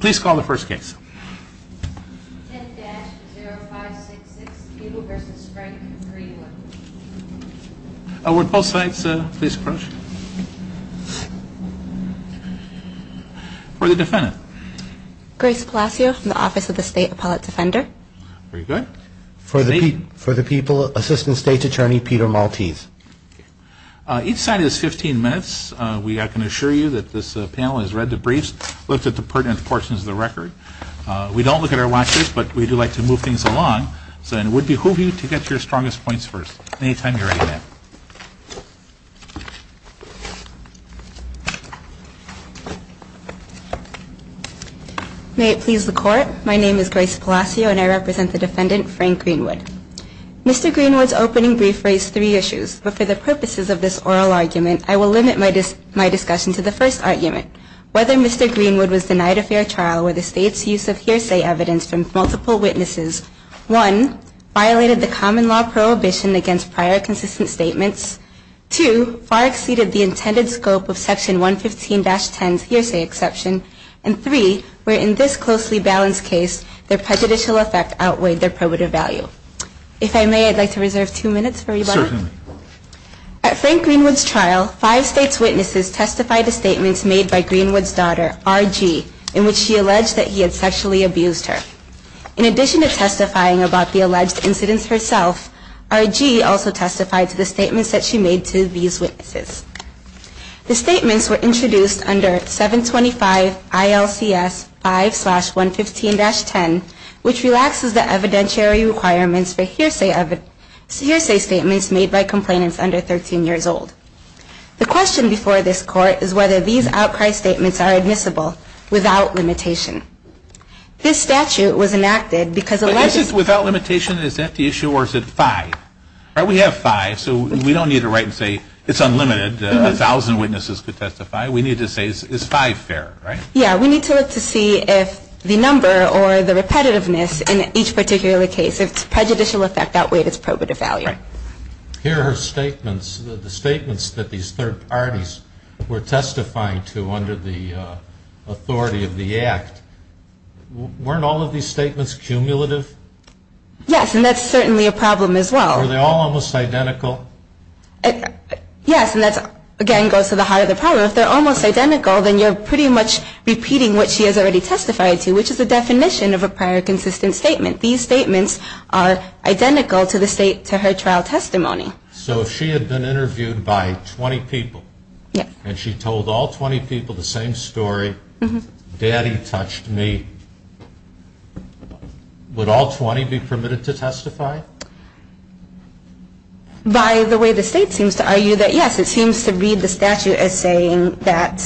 Please call the first case. Would both sides please approach. For the defendant. Grace Palacio from the Office of the State Appellate Defender. For the people, Assistant State Attorney Peter Maltese. Each side is fifteen minutes. We can assure you that this panel has read the briefs, looked at the pertinent portions of the record. We don't look at our watches, but we do like to move things along. So it would behoove you to get your strongest points first. Any time you're ready, ma'am. May it please the Court. My name is Grace Palacio and I represent the defendant, Frank Greenwood. Mr. Greenwood's opening brief raised three issues, but for the purposes of this oral argument, I will limit my discussion to the first argument. Whether Mr. Greenwood was denied a fair trial were the State's use of hearsay evidence from multiple witnesses. One, violated the common law prohibition against prior consistent statements. Two, far exceeded the intended scope of Section 115-10's hearsay exception. And three, where in this closely balanced case, their prejudicial effect outweighed their probative value. If I may, I'd like to reserve two minutes for rebuttal. At Frank Greenwood's trial, five State's witnesses testified to statements made by Greenwood's daughter, R.G., in which she alleged that he had sexually abused her. In addition to testifying about the alleged incidents herself, R.G. also testified to the statements that she made to these witnesses. The statements were introduced under 725 ILCS 5-115-10, which relaxes the evidentiary requirements for hearsay statements made by complainants under 13 years old. The question before this Court is whether these outcry statements are admissible without limitation. This statute was enacted because alleged... But is it without limitation? Is that the issue, or is it five? We have five, so we don't need to write and say, it's unlimited, a thousand witnesses could testify. We need to say, is five fair, right? Yeah, we need to look to see if the number or the repetitiveness in each particular case, if it's prejudicial effect outweighed its probative value. Here are her statements. The statements that these third parties were testifying to under the authority of the Act, weren't all of these statements cumulative? Yes, and that's certainly a problem as well. Were they all almost identical? Yes, and that, again, goes to the heart of the problem. So if they're almost identical, then you're pretty much repeating what she has already testified to, which is the definition of a prior consistent statement. These statements are identical to her trial testimony. So if she had been interviewed by 20 people, and she told all 20 people the same story, Daddy touched me, would all 20 be permitted to testify? By the way, the state seems to argue that, yes, it seems to read the statute as saying that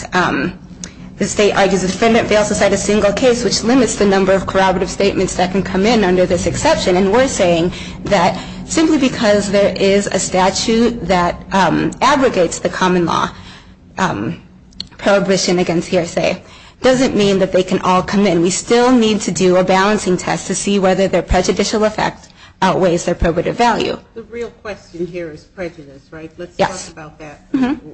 the state argues the defendant fails to cite a single case, which limits the number of corroborative statements that can come in under this exception. And we're saying that simply because there is a statute that aggregates the common law prohibition against hearsay, doesn't mean that they can all come in. We still need to do a balancing test to see whether their prejudicial effect outweighs their probative value. The real question here is prejudice, right? Yes. Let's talk about that.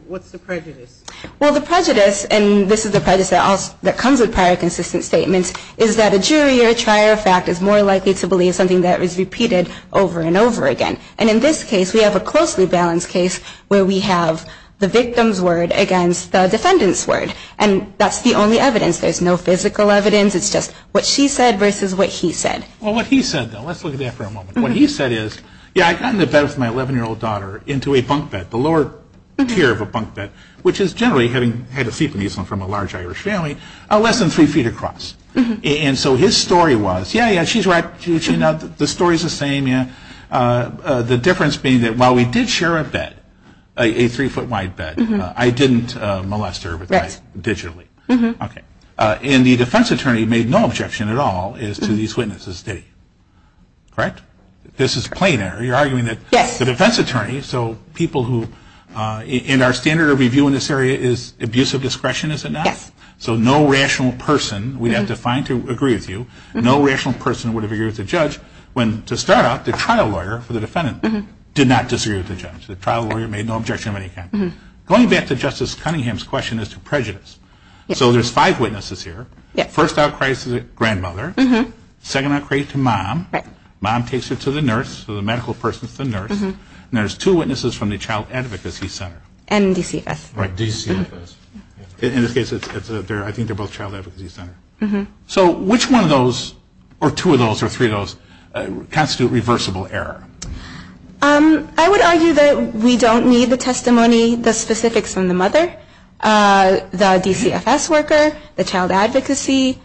What's the prejudice? Well, the prejudice, and this is the prejudice that comes with prior consistent statements, is that a jury or a trier of fact is more likely to believe something that is repeated over and over again. And in this case, we have a closely balanced case where we have the victim's word against the defendant's word. And that's the only evidence. There's no physical evidence. It's just what she said versus what he said. Well, what he said, though, let's look at that for a moment. What he said is, yeah, I got in a bed with my 11-year-old daughter into a bunk bed, the lower tier of a bunk bed, which is generally, having had a seat in these from a large Irish family, less than three feet across. And so his story was, yeah, yeah, she's right, the story's the same, yeah. The difference being that while we did share a bed, a three-foot wide bed, I didn't molest her digitally. Okay. And the defense attorney made no objection at all as to these witnesses, did he? Correct? This is plain error. You're arguing that the defense attorney, so people who, in our standard of review in this area, is abusive discretion, is it not? Yes. So no rational person, we have defined to agree with you, no rational person would have agreed with the judge when, to start out, the trial lawyer for the defendant did not disagree with the judge. The trial lawyer made no objection of any kind. Going back to Justice Cunningham's question as to prejudice. Yes. So there's five witnesses here. Yes. First outcries to the grandmother. Mm-hmm. Second outcry to mom. Right. Mom takes her to the nurse, so the medical person's the nurse. Mm-hmm. And there's two witnesses from the Child Advocacy Center. And DCFS. Right, DCFS. In this case, I think they're both Child Advocacy Center. Mm-hmm. So which one of those, or two of those, or three of those, constitute reversible error? I would argue that we don't need the testimony, the specifics from the mother, the DCFS worker, the child advocacy.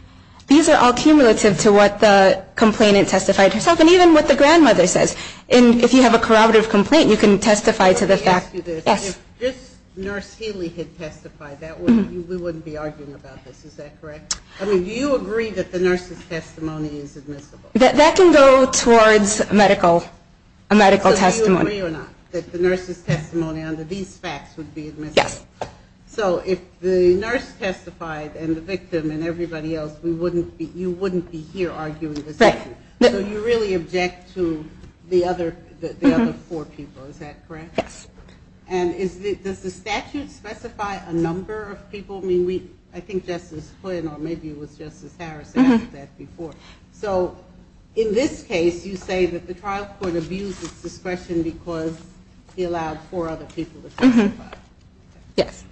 These are all cumulative to what the complainant testified herself, and even what the grandmother says. And if you have a corroborative complaint, you can testify to the fact. Let me ask you this. Yes. If this nurse Haley had testified, we wouldn't be arguing about this. Is that correct? I mean, do you agree that the nurse's testimony is admissible? That can go towards a medical testimony. So do you agree or not that the nurse's testimony under these facts would be admissible? Yes. So if the nurse testified and the victim and everybody else, you wouldn't be here arguing this? Right. So you really object to the other four people. Is that correct? Yes. And does the statute specify a number of people? I mean, I think Justice Flynn, or maybe it was Justice Harris, asked that before. So in this case, you say that the trial court abused its discretion because he allowed four other people to testify. Yes.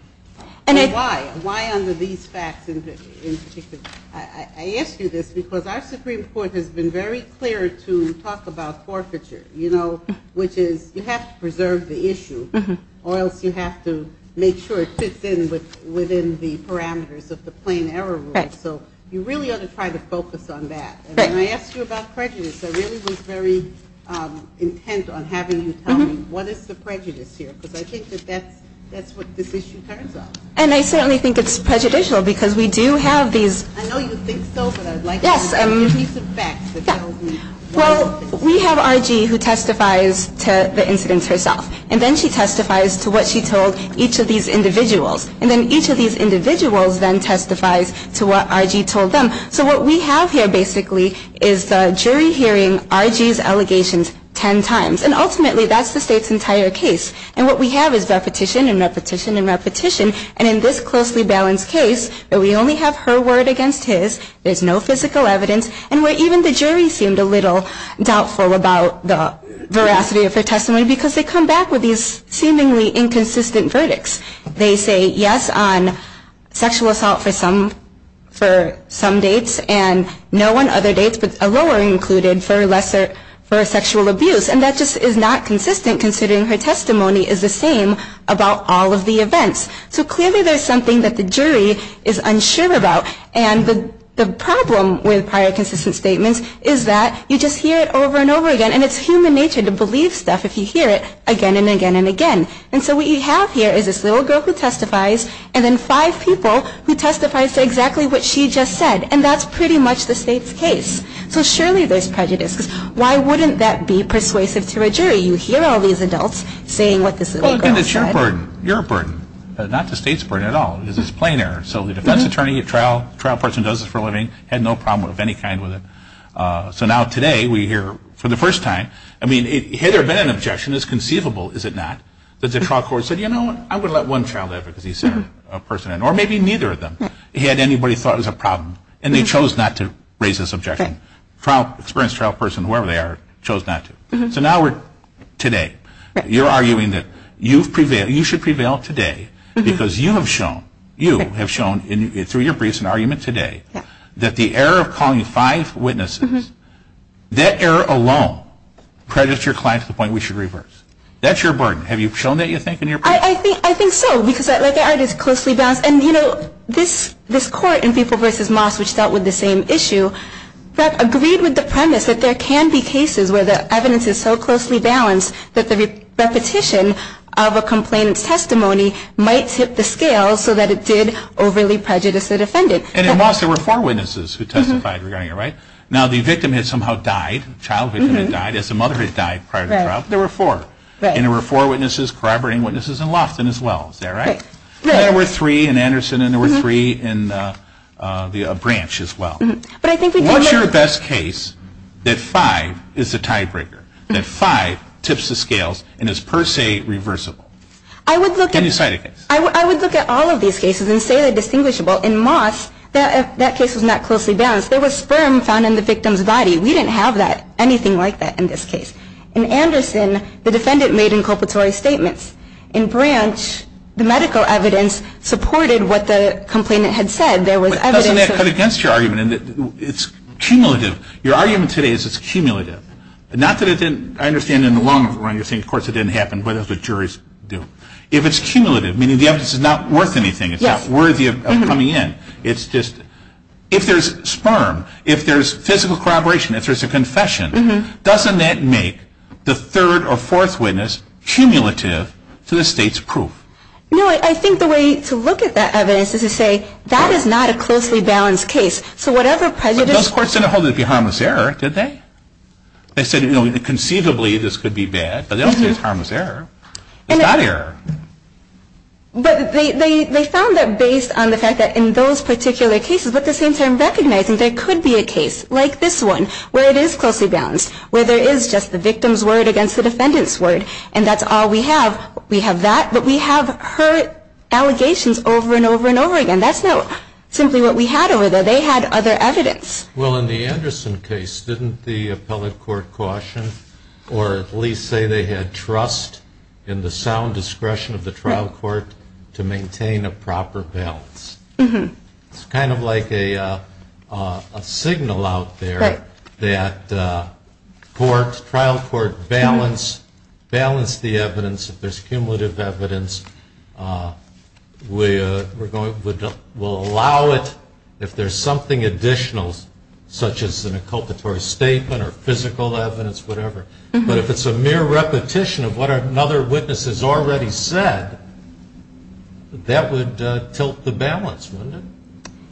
Why? Why under these facts in particular? I ask you this because our Supreme Court has been very clear to talk about forfeiture, you know, which is you have to preserve the issue or else you have to make sure it fits in within the parameters of the plain error rule. Right. So you really ought to try to focus on that. Right. And when I asked you about prejudice, I really was very intent on having you tell me, what is the prejudice here? Because I think that that's what this issue turns out. And I certainly think it's prejudicial because we do have these. I know you think so, but I'd like you to give me some facts that tell me why it's prejudicial. Well, we have R.G. who testifies to the incidents herself. And then she testifies to what she told each of these individuals. And then each of these individuals then testifies to what R.G. told them. So what we have here basically is the jury hearing R.G.'s allegations ten times. And ultimately that's the State's entire case. And what we have is repetition and repetition and repetition. And in this closely balanced case, we only have her word against his. There's no physical evidence. And where even the jury seemed a little doubtful about the veracity of her testimony because they come back with these seemingly inconsistent verdicts. They say yes on sexual assault for some dates and no on other dates but a lower included for sexual abuse. And that just is not consistent considering her testimony is the same about all of the events. So clearly there's something that the jury is unsure about. And the problem with prior consistent statements is that you just hear it over and over again. And it's human nature to believe stuff if you hear it again and again and again. And so what you have here is this little girl who testifies and then five people who testifies to exactly what she just said. And that's pretty much the State's case. So surely there's prejudice. Why wouldn't that be persuasive to a jury? You hear all these adults saying what this little girl said. Well, again, it's your burden, your burden, not the State's burden at all. This is plain error. So the defense attorney, a trial person, does this for a living, had no problem of any kind with it. So now today we hear for the first time, I mean, had there been an objection, it's conceivable, is it not, that the trial court said, you know what, I'm going to let one child live because he's a person. Or maybe neither of them had anybody thought it was a problem. And they chose not to raise this objection. Experienced trial person, whoever they are, chose not to. So now we're today. You're arguing that you should prevail today because you have shown, you have shown through your briefs and argument today, that the error of calling five witnesses, that error alone credits your client to the point we should reverse. That's your burden. Have you shown that, you think, in your briefs? I think so. Because, like I said, it's closely balanced. And, you know, this court in People v. Moss, which dealt with the same issue, agreed with the premise that there can be cases where the evidence is so closely balanced that the repetition of a complainant's testimony might tip the scale so that it did overly prejudice the defendant. And in Moss there were four witnesses who testified regarding it, right? Now the victim had somehow died, the child victim had died, as the mother had died prior to the trial. There were four. And there were four witnesses corroborating witnesses in Lofton as well. Is that right? There were three in Anderson and there were three in the branch as well. What's your best case that five is the tiebreaker, that five tips the scales and is per se reversible? Can you cite a case? I would look at all of these cases and say they're distinguishable. In Moss that case was not closely balanced. There was sperm found in the victim's body. We didn't have anything like that in this case. In Anderson the defendant made inculpatory statements. In branch the medical evidence supported what the complainant had said. But doesn't that cut against your argument? It's cumulative. Your argument today is it's cumulative. Not that it didn't, I understand in the long run you're saying of course it didn't happen, but that's what juries do. If it's cumulative, meaning the evidence is not worth anything, it's not worthy of coming in, if there's sperm, if there's physical corroboration, if there's a confession, doesn't that make the third or fourth witness cumulative to the state's proof? No, I think the way to look at that evidence is to say that is not a closely balanced case. So whatever prejudice But those courts didn't hold it to be harmless error, did they? They said conceivably this could be bad, but they don't say it's harmless error. It's not error. But they found that based on the fact that in those particular cases, but at the same time recognizing there could be a case like this one where it is closely balanced, where there is just the victim's word against the defendant's word, and that's all we have. We have that, but we have her allegations over and over and over again. That's not simply what we had over there. They had other evidence. Well, in the Anderson case, didn't the appellate court caution or at least say they had trust in the sound discretion of the trial court to maintain a proper balance? It's kind of like a signal out there that trial court balance the evidence. If there's cumulative evidence, we'll allow it. If there's something additional, such as an inculpatory statement or physical evidence, whatever, but if it's a mere repetition of what another witness has already said, that would tilt the balance, wouldn't it?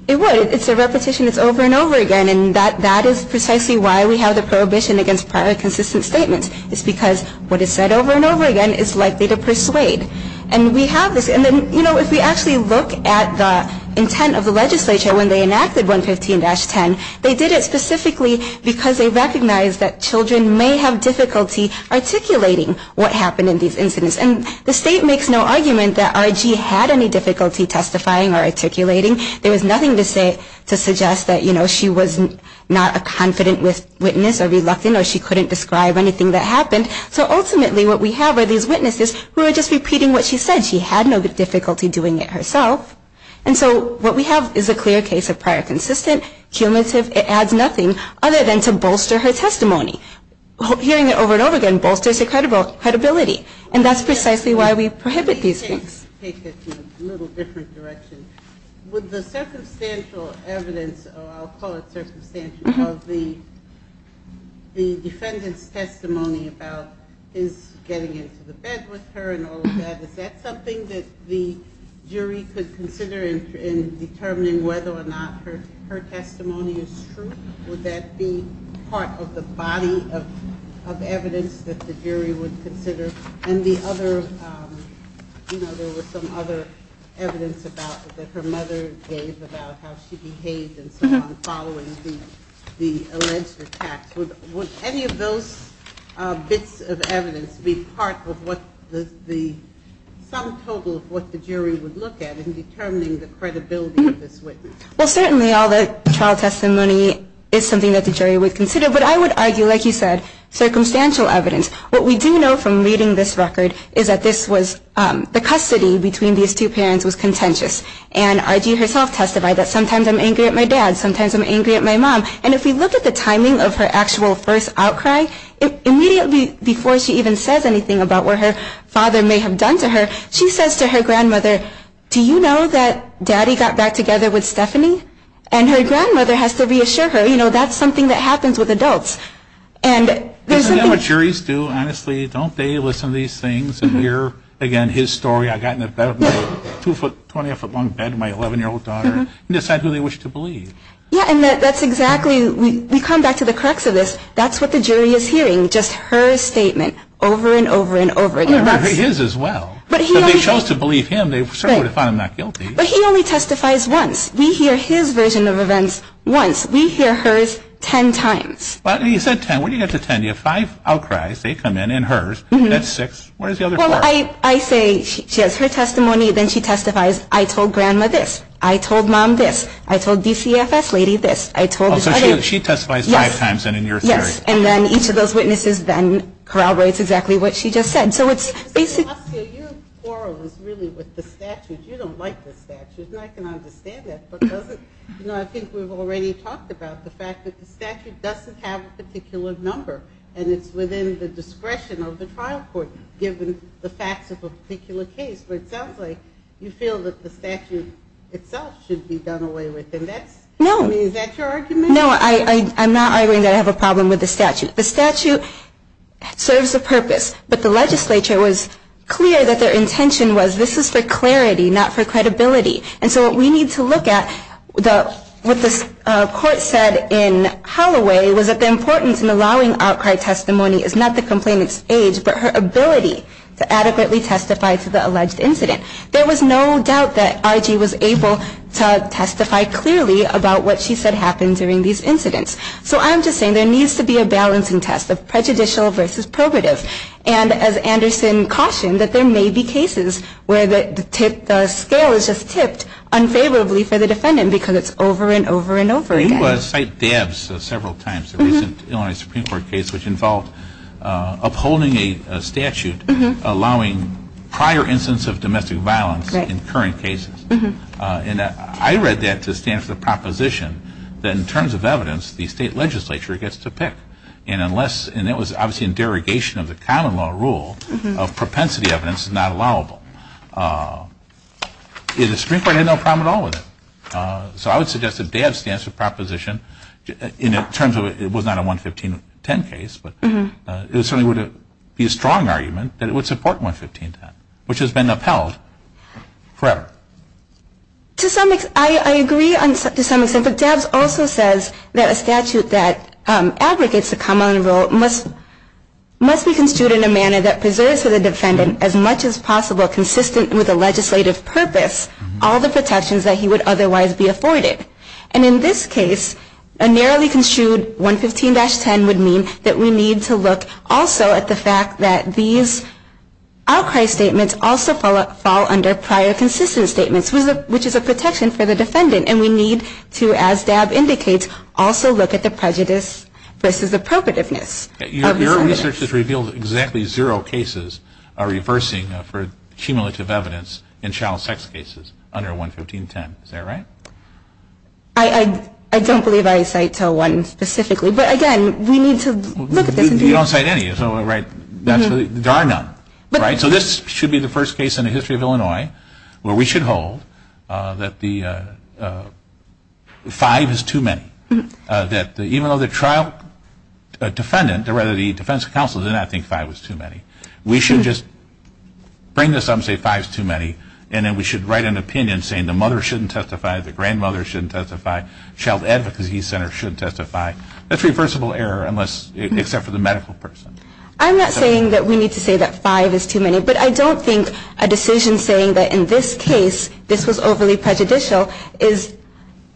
It would. It's a repetition that's over and over again, and that is precisely why we have the prohibition against prior consistent statements. It's because what is said over and over again is likely to persuade. If we actually look at the intent of the legislature when they enacted 115-10, they did it specifically because they recognized that children may have difficulty articulating what happened in these incidents. The state makes no argument that R.G. had any difficulty testifying or articulating. There was nothing to suggest that she was not a confident witness or reluctant or she couldn't describe anything that happened. So ultimately what we have are these witnesses who are just repeating what she said. She had no difficulty doing it herself. And so what we have is a clear case of prior consistent, cumulative. It adds nothing other than to bolster her testimony. Hearing it over and over again bolsters her credibility, and that's precisely why we prohibit these things. With the circumstantial evidence, I'll call it circumstantial, of the defendant's testimony about his getting into the bed with her and all of that, is that something that the jury could consider in determining whether or not her testimony is true? Would that be part of the body of evidence that the jury would consider? And the other, you know, there was some other evidence that her mother gave about how she behaved and so on following the alleged attacks. Would any of those bits of evidence be part of what the sum total of what the jury would look at in determining the credibility of this witness? Well, certainly all the trial testimony is something that the jury would consider. But I would argue, like you said, circumstantial evidence. What we do know from reading this record is that this was, the custody between these two parents was contentious. And R.G. herself testified that sometimes I'm angry at my dad, sometimes I'm angry at my mom. And if we look at the timing of her actual first outcry, immediately before she even says anything about what her father may have done to her, she says to her grandmother, do you know that daddy got back together with Stephanie? And her grandmother has to reassure her, you know, that's something that happens with adults. Isn't that what juries do, honestly? Don't they listen to these things and hear, again, his story? I got in the bed of my two-foot, 20-foot-long bed with my 11-year-old daughter and decide who they wish to believe. Yeah, and that's exactly, we come back to the crux of this. That's what the jury is hearing, just her statement over and over and over again. Well, I heard his as well. If they chose to believe him, they certainly would have found him not guilty. But he only testifies once. We hear his version of events once. We hear hers 10 times. He said 10. What do you get to 10? You have five outcries. They come in. And hers. That's six. What is the other four? Well, I say she has her testimony. Then she testifies, I told grandma this. I told mom this. I told DCFS lady this. I told his other. So she testifies five times in your theory. Yes. And then each of those witnesses then corroborates exactly what she just said. So it's basically you quarrel is really with the statute. You don't like the statute. And I can understand that. I think we've already talked about the fact that the statute doesn't have a particular number. And it's within the discretion of the trial court given the facts of a particular case. But it sounds like you feel that the statute itself should be done away with. No. I mean, is that your argument? No, I'm not arguing that I have a problem with the statute. The statute serves a purpose. But the legislature was clear that their intention was this is for clarity, not for credibility. And so what we need to look at, what the court said in Holloway, was that the importance in allowing outcry testimony is not the complainant's age, but her ability to adequately testify to the alleged incident. There was no doubt that Archie was able to testify clearly about what she said happened during these incidents. So I'm just saying there needs to be a balancing test of prejudicial versus probative. And as Anderson cautioned, that there may be cases where the scale is just tipped unfavorably for the defendant because it's over and over and over again. You cite DABS several times, the recent Illinois Supreme Court case, which involved upholding a statute allowing prior instance of domestic violence in current cases. And I read that to stand for the proposition that in terms of evidence, the state legislature gets to pick. And that was obviously in derogation of the common law rule of propensity evidence is not allowable. The Supreme Court had no problem at all with it. So I would suggest that DABS stands for proposition in terms of it was not a 11510 case, but it certainly would be a strong argument that it would support 11510, which has been upheld forever. I agree to some extent, but DABS also says that a statute that aggregates the common law must be construed in a manner that preserves for the defendant, as much as possible, consistent with the legislative purpose, all the protections that he would otherwise be afforded. And in this case, a narrowly construed 115-10 would mean that we need to look also at the fact that these outcry statements also fall under prior consistent statements, which is a protection for the defendant. And we need to, as DABS indicates, also look at the prejudice versus appropriativeness. Your research has revealed exactly zero cases are reversing for cumulative evidence in child sex cases under 115-10. Is that right? I don't believe I cite one specifically. But again, we need to look at this. You don't cite any, right? There are none, right? So this should be the first case in the history of Illinois where we should hold that the five is too many, that even though the trial defendant or rather the defense counsel did not think five was too many. We should just bring this up and say five is too many, and then we should write an opinion saying the mother shouldn't testify, the grandmother shouldn't testify, child advocacy center shouldn't testify. That's reversible error unless, except for the medical person. I'm not saying that we need to say that five is too many, but I don't think a decision saying that in this case this was overly prejudicial is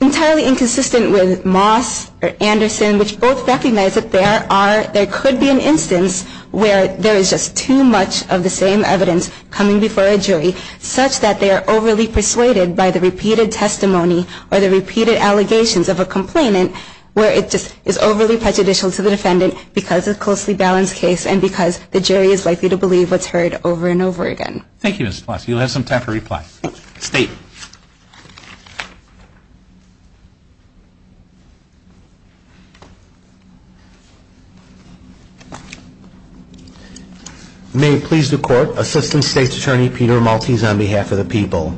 entirely inconsistent with Moss or Anderson, which both recognize that there could be an instance where there is just too much of the same evidence coming before a jury, such that they are overly persuaded by the repeated testimony or the repeated allegations of a complainant where it just is overly prejudicial to the defendant because it's a closely balanced case and because the jury is likely to believe what's heard over and over again. Thank you, Ms. Plessy. You'll have some time to reply. Thank you. State. May it please the Court, Assistant State's Attorney Peter Maltese on behalf of the people.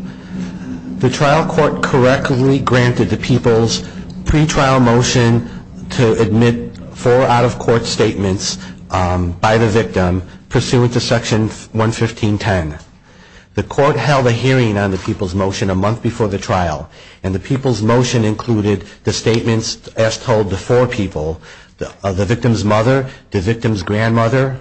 The trial court correctly granted the people's pre-trial motion to admit four out-of-court statements by the victim pursuant to Section 115.10. The court held a hearing on the people's motion a month before the trial, and the people's motion included the statements as told to four people, the victim's mother, the victim's grandmother,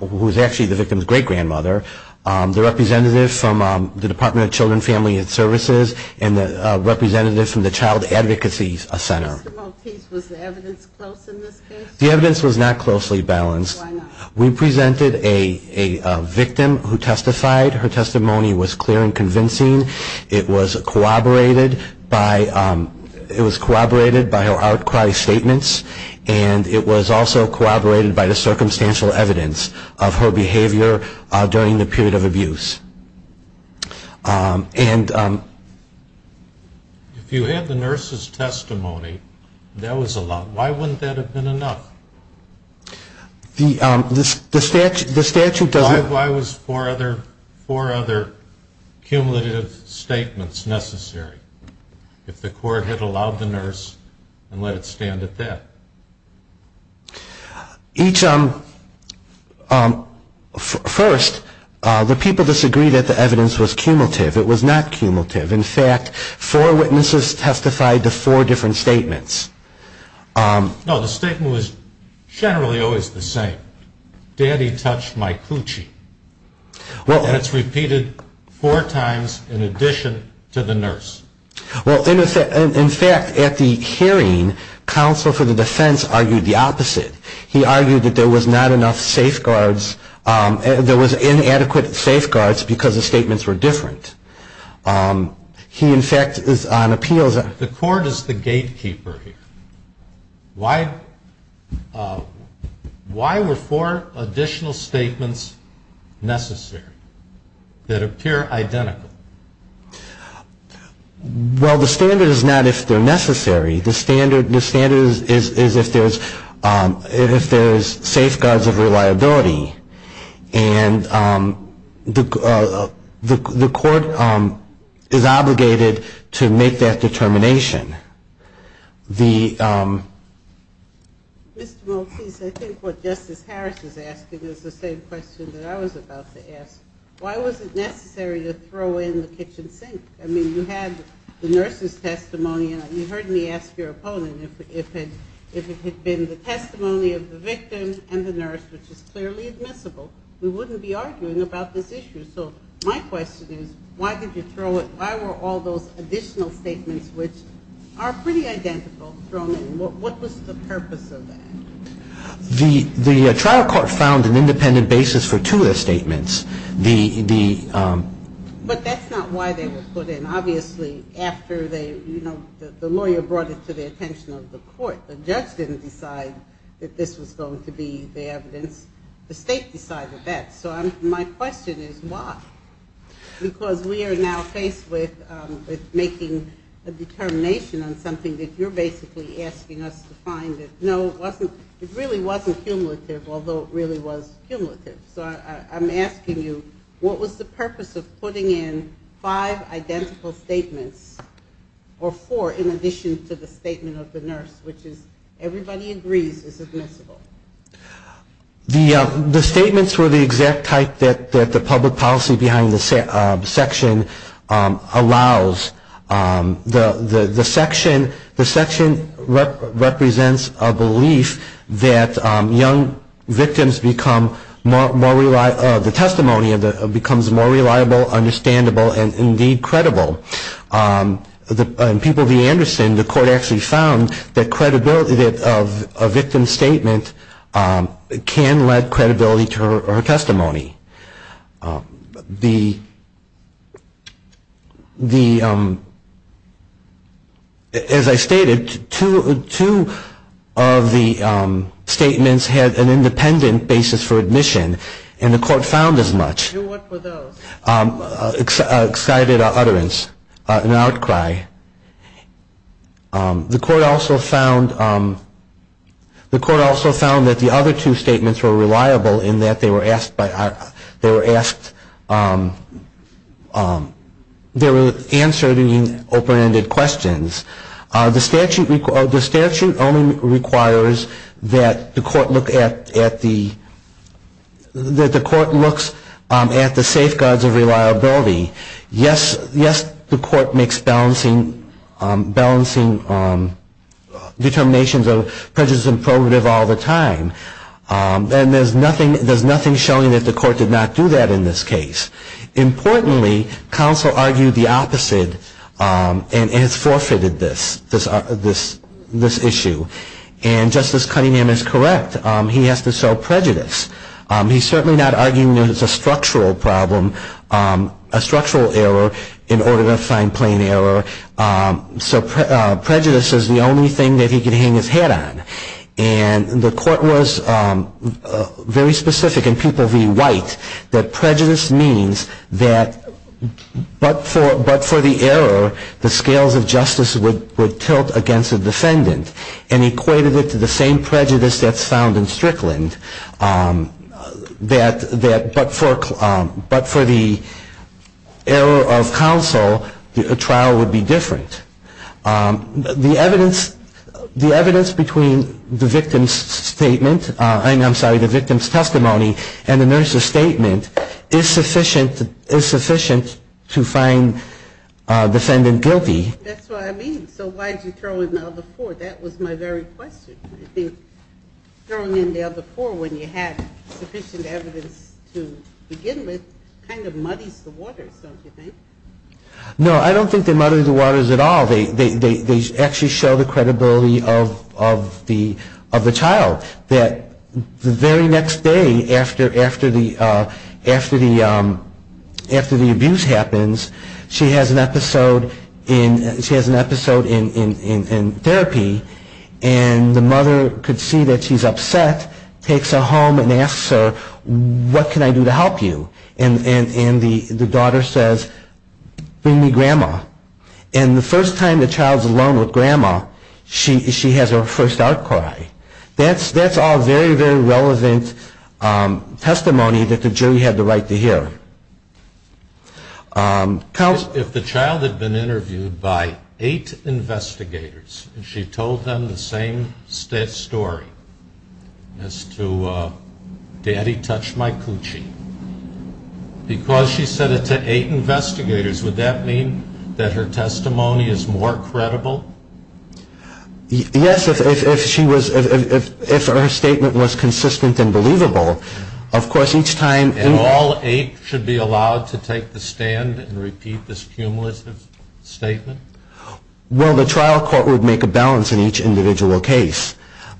who was actually the victim's great-grandmother, the representative from the Department of Children, Family, and Services, and the representative from the Child Advocacy Center. Mr. Maltese, was the evidence close in this case? The evidence was not closely balanced. Why not? We presented a victim who testified. Her testimony was clear and convincing. It was corroborated by her outcry statements, and it was also corroborated by the circumstantial evidence of her behavior during the period of abuse. If you had the nurse's testimony and that was allowed, why wouldn't that have been enough? Why was four other cumulative statements necessary if the court had allowed the nurse and let it stand at that? First, the people disagreed that the evidence was cumulative. It was not cumulative. In fact, four witnesses testified to four different statements. No, the statement was generally always the same. Daddy touched my coochie. And it's repeated four times in addition to the nurse. Well, in fact, at the hearing, counsel for the defense argued the opposite. He argued that there was not enough safeguards, there was inadequate safeguards because the statements were different. He, in fact, is on appeals. The court is the gatekeeper here. Why were four additional statements necessary that appear identical? Well, the standard is not if they're necessary. The standard is if there's safeguards of reliability, and the court is obligated to make that determination. Mr. Maltese, I think what Justice Harris is asking is the same question that I was about to ask. Why was it necessary to throw in the kitchen sink? I mean, you had the nurse's testimony, and you heard me ask your opponent, if it had been the testimony of the victim and the nurse, which is clearly admissible, we wouldn't be arguing about this issue. So my question is, why did you throw it? The trial court found an independent basis for two of the statements. But that's not why they were put in. Obviously, after the lawyer brought it to the attention of the court, the judge didn't decide that this was going to be the evidence. The state decided that. So my question is, why? Because we are now faced with making a determination on something that you're basically asking us to find. No, it really wasn't cumulative, although it really was cumulative. So I'm asking you, what was the purpose of putting in five identical statements, or four in addition to the statement of the nurse, which is everybody agrees is admissible? The statements were the exact type that the public policy behind the section allows. The section represents a belief that young victims become more reliable, the testimony becomes more reliable, understandable, and, indeed, credible. In People v. Anderson, the court actually found that credibility of a victim's statement can lead credibility to her testimony. As I stated, two of the statements had an independent basis for admission, and the court found as much. Excited utterance, an outcry. The court also found that the other two statements were reliable in that they were asked, they were answered in open-ended questions. The statute only requires that the court look at the safeguards of reliability. Yes, the court makes balancing determinations of prejudice and prohibitive all the time, and there's nothing showing that the court did not do that in this case. Importantly, counsel argued the opposite and has forfeited this issue. And Justice Cunningham is correct, he has to sell prejudice. He's certainly not arguing that it's a structural problem, a structural error, in order to find plain error. So prejudice is the only thing that he can hang his hat on. And the court was very specific in People v. White that prejudice means that but for the error, the scales of justice would tilt against the defendant and equated it to the same prejudice that's found in Strickland. But for the error of counsel, the trial would be different. The evidence between the victim's testimony and the nurse's statement is sufficient to find the defendant guilty. That's what I mean. So why did you throw in the other four? That was my very question. I think throwing in the other four when you had sufficient evidence to begin with kind of muddies the waters, don't you think? No, I don't think they muddy the waters at all. They actually show the credibility of the child, that the very next day after the abuse happens, she has an episode in therapy, and the mother could see that she's upset, takes her home and asks her, what can I do to help you? And the daughter says, bring me grandma. And the first time the child's alone with grandma, she has her first outcry. That's all very, very relevant testimony that the jury had the right to hear. If the child had been interviewed by eight investigators and she told them the same story as to daddy touched my coochie, because she said it to eight investigators, would that mean that her testimony is more credible? Yes, if her statement was consistent and believable. And all eight should be allowed to take the stand and repeat this cumulative statement? Well, the trial court would make a balance in each individual case.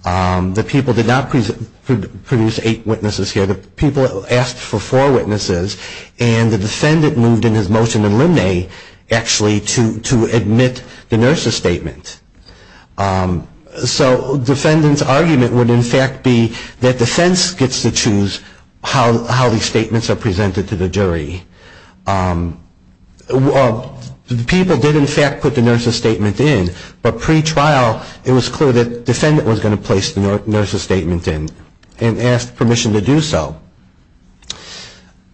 The people did not produce eight witnesses here. The people asked for four witnesses, and the defendant moved in his motion in limine actually to admit the nurse's statement. So the defendant's argument would in fact be that defense gets to choose how these statements are presented to the jury. The people did in fact put the nurse's statement in, but pre-trial it was clear that the defendant was going to place the nurse's statement in and ask permission to do so.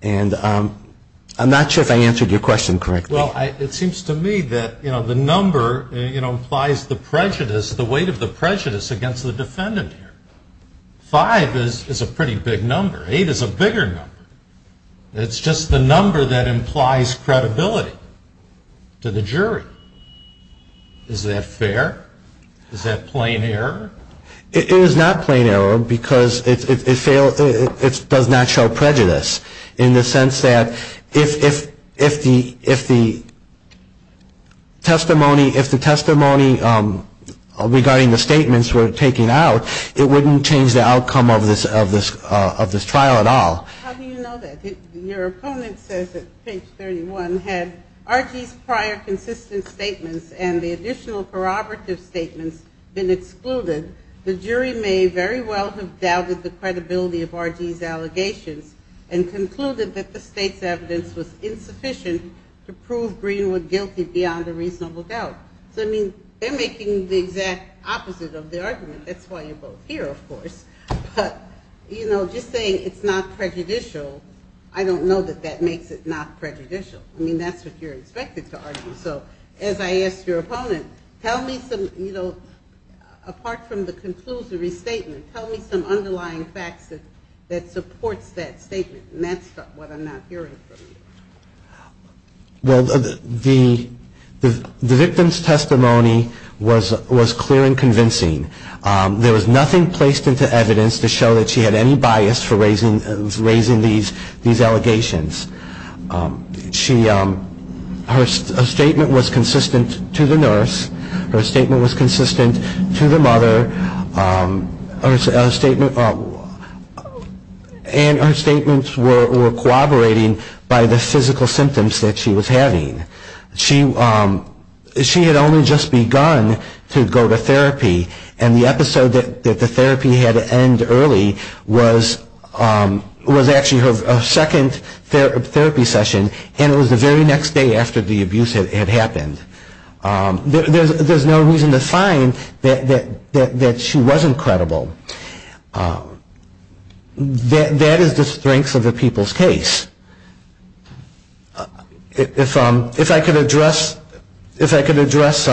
And I'm not sure if I answered your question correctly. Well, it seems to me that the number implies the weight of the prejudice against the defendant here. Five is a pretty big number. Eight is a bigger number. It's just the number that implies credibility to the jury. Is that fair? Is that plain error? It is not plain error because it does not show prejudice in the sense that if the testimony regarding the statements were taken out, it wouldn't change the outcome of this trial at all. How do you know that? Your opponent says at page 31, had R.G.'s prior consistent statements and the additional corroborative statements been excluded, the jury may very well have doubted the credibility of R.G.'s allegations and concluded that the state's evidence was insufficient to prove Greenwood guilty beyond a reasonable doubt. So I mean, they're making the exact opposite of the argument. That's why you're both here, of course. But, you know, just saying it's not prejudicial, I don't know that that makes it not prejudicial. I mean, that's what you're expected to argue. So as I asked your opponent, tell me some, you know, apart from the conclusory statement, tell me some underlying facts that supports that statement. And that's what I'm not hearing from you. Well, the victim's testimony was clear and convincing. There was nothing placed into evidence to show that she had any bias for raising these allegations. Her statement was consistent to the nurse. Her statement was consistent to the mother. And her statements were corroborating by the physical symptoms that she was having. She had only just begun to go to therapy, and the episode that the therapy had to end early was actually her second therapy session, and it was the very next day after the abuse had happened. There's no reason to find that she wasn't credible. That is the strength of a people's case. If I could address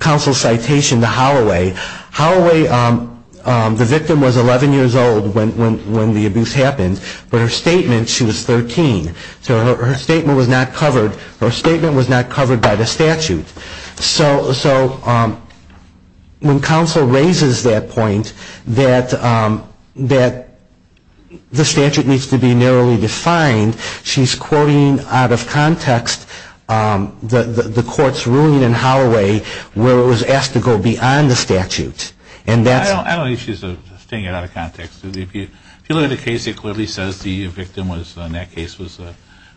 counsel's citation to Holloway. Holloway, the victim, was 11 years old when the abuse happened, but her statement, she was 13. So her statement was not covered by the statute. So when counsel raises that point, that the statute needs to be re-examined. That's not to say that the statute needs to be narrowly defined. She's quoting out of context the court's ruling in Holloway where it was asked to go beyond the statute. I don't think she's stating it out of context. If you look at the case, it clearly says the victim in that case was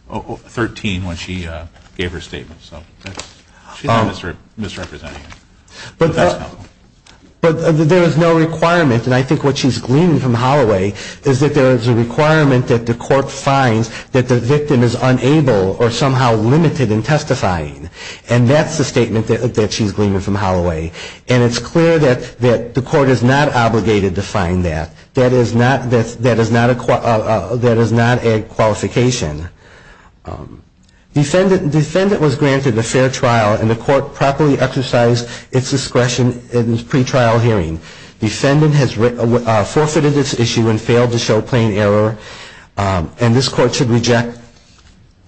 13 when she gave her statement. So she's not misrepresenting it. But there is no requirement, and I think what she's gleaning from Holloway is that there is a requirement that the court finds that the victim is unable or somehow limited in testifying. And that's the statement that she's gleaning from Holloway. And it's clear that the court is not obligated to find that. That is not a qualification. Defendant was granted a fair trial, and the court properly exercised its discretion in its pretrial hearing. Defendant has forfeited its issue and failed to show plain error. And this court should reject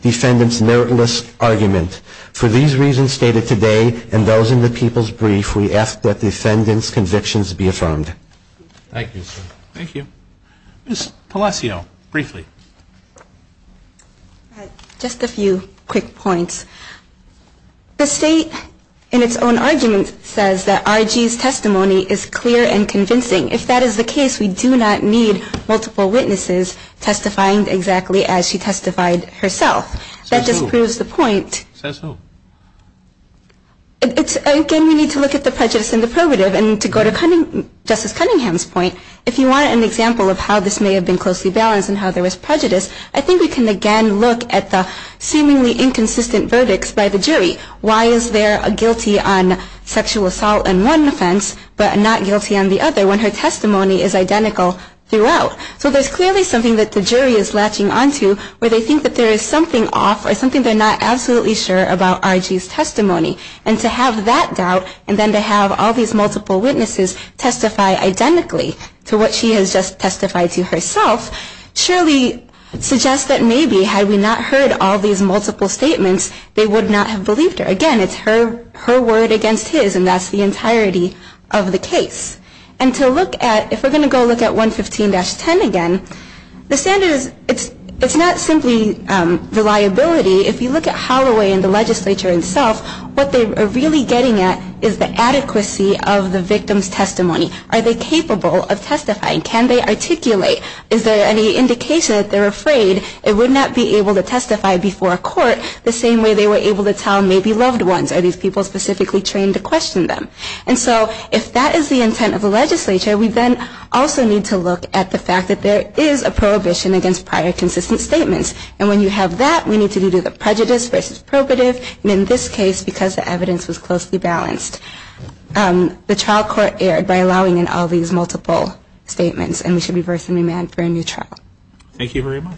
defendant's meritless argument. For these reasons stated today and those in the people's brief, we ask that defendant's convictions be affirmed. Thank you, sir. Just a few quick points. The state in its own argument says that R.G.'s testimony is clear and convincing. If that is the case, we do not need multiple witnesses testifying exactly as she testified herself. That just proves the point. Again, we need to look at the prejudice in the probative. And to go to Justice Cunningham's point, if you want an example of how this may have been closely balanced and how there was prejudice, I think we can again look at the seemingly inconsistent verdicts by the jury. Why is there a guilty on sexual assault in one offense but not guilty on the other when her testimony is identical throughout? So there's clearly something that the jury is latching onto where they think that there is something off or something they're not absolutely sure about R.G.'s testimony. And to have that doubt and then to have all these multiple witnesses testify identically to what she has just testified to herself, surely suggests that maybe had we not heard all these multiple statements, they would not have believed her. Again, it's her word against his, and that's the entirety of the case. And to look at, if we're going to go look at 115-10 again, the standard is, it's not simply reliability. If you look at Holloway and the legislature itself, what they are really getting at is the adequacy of the victim's testimony. Are they capable of testifying? Can they articulate? Is there any indication that they're afraid it would not be able to testify before a court the same way they were able to tell maybe loved ones? Are these people specifically trained to question them? And so if that is the intent of the legislature, we then also need to look at the fact that there is a prohibition against prior consistent statements. And when you have that, we need to do the prejudice versus probative. And in this case, because the evidence was closely balanced, the trial court erred by allowing in all these multiple statements. And we should reverse and remand for a new trial. Thank you very much.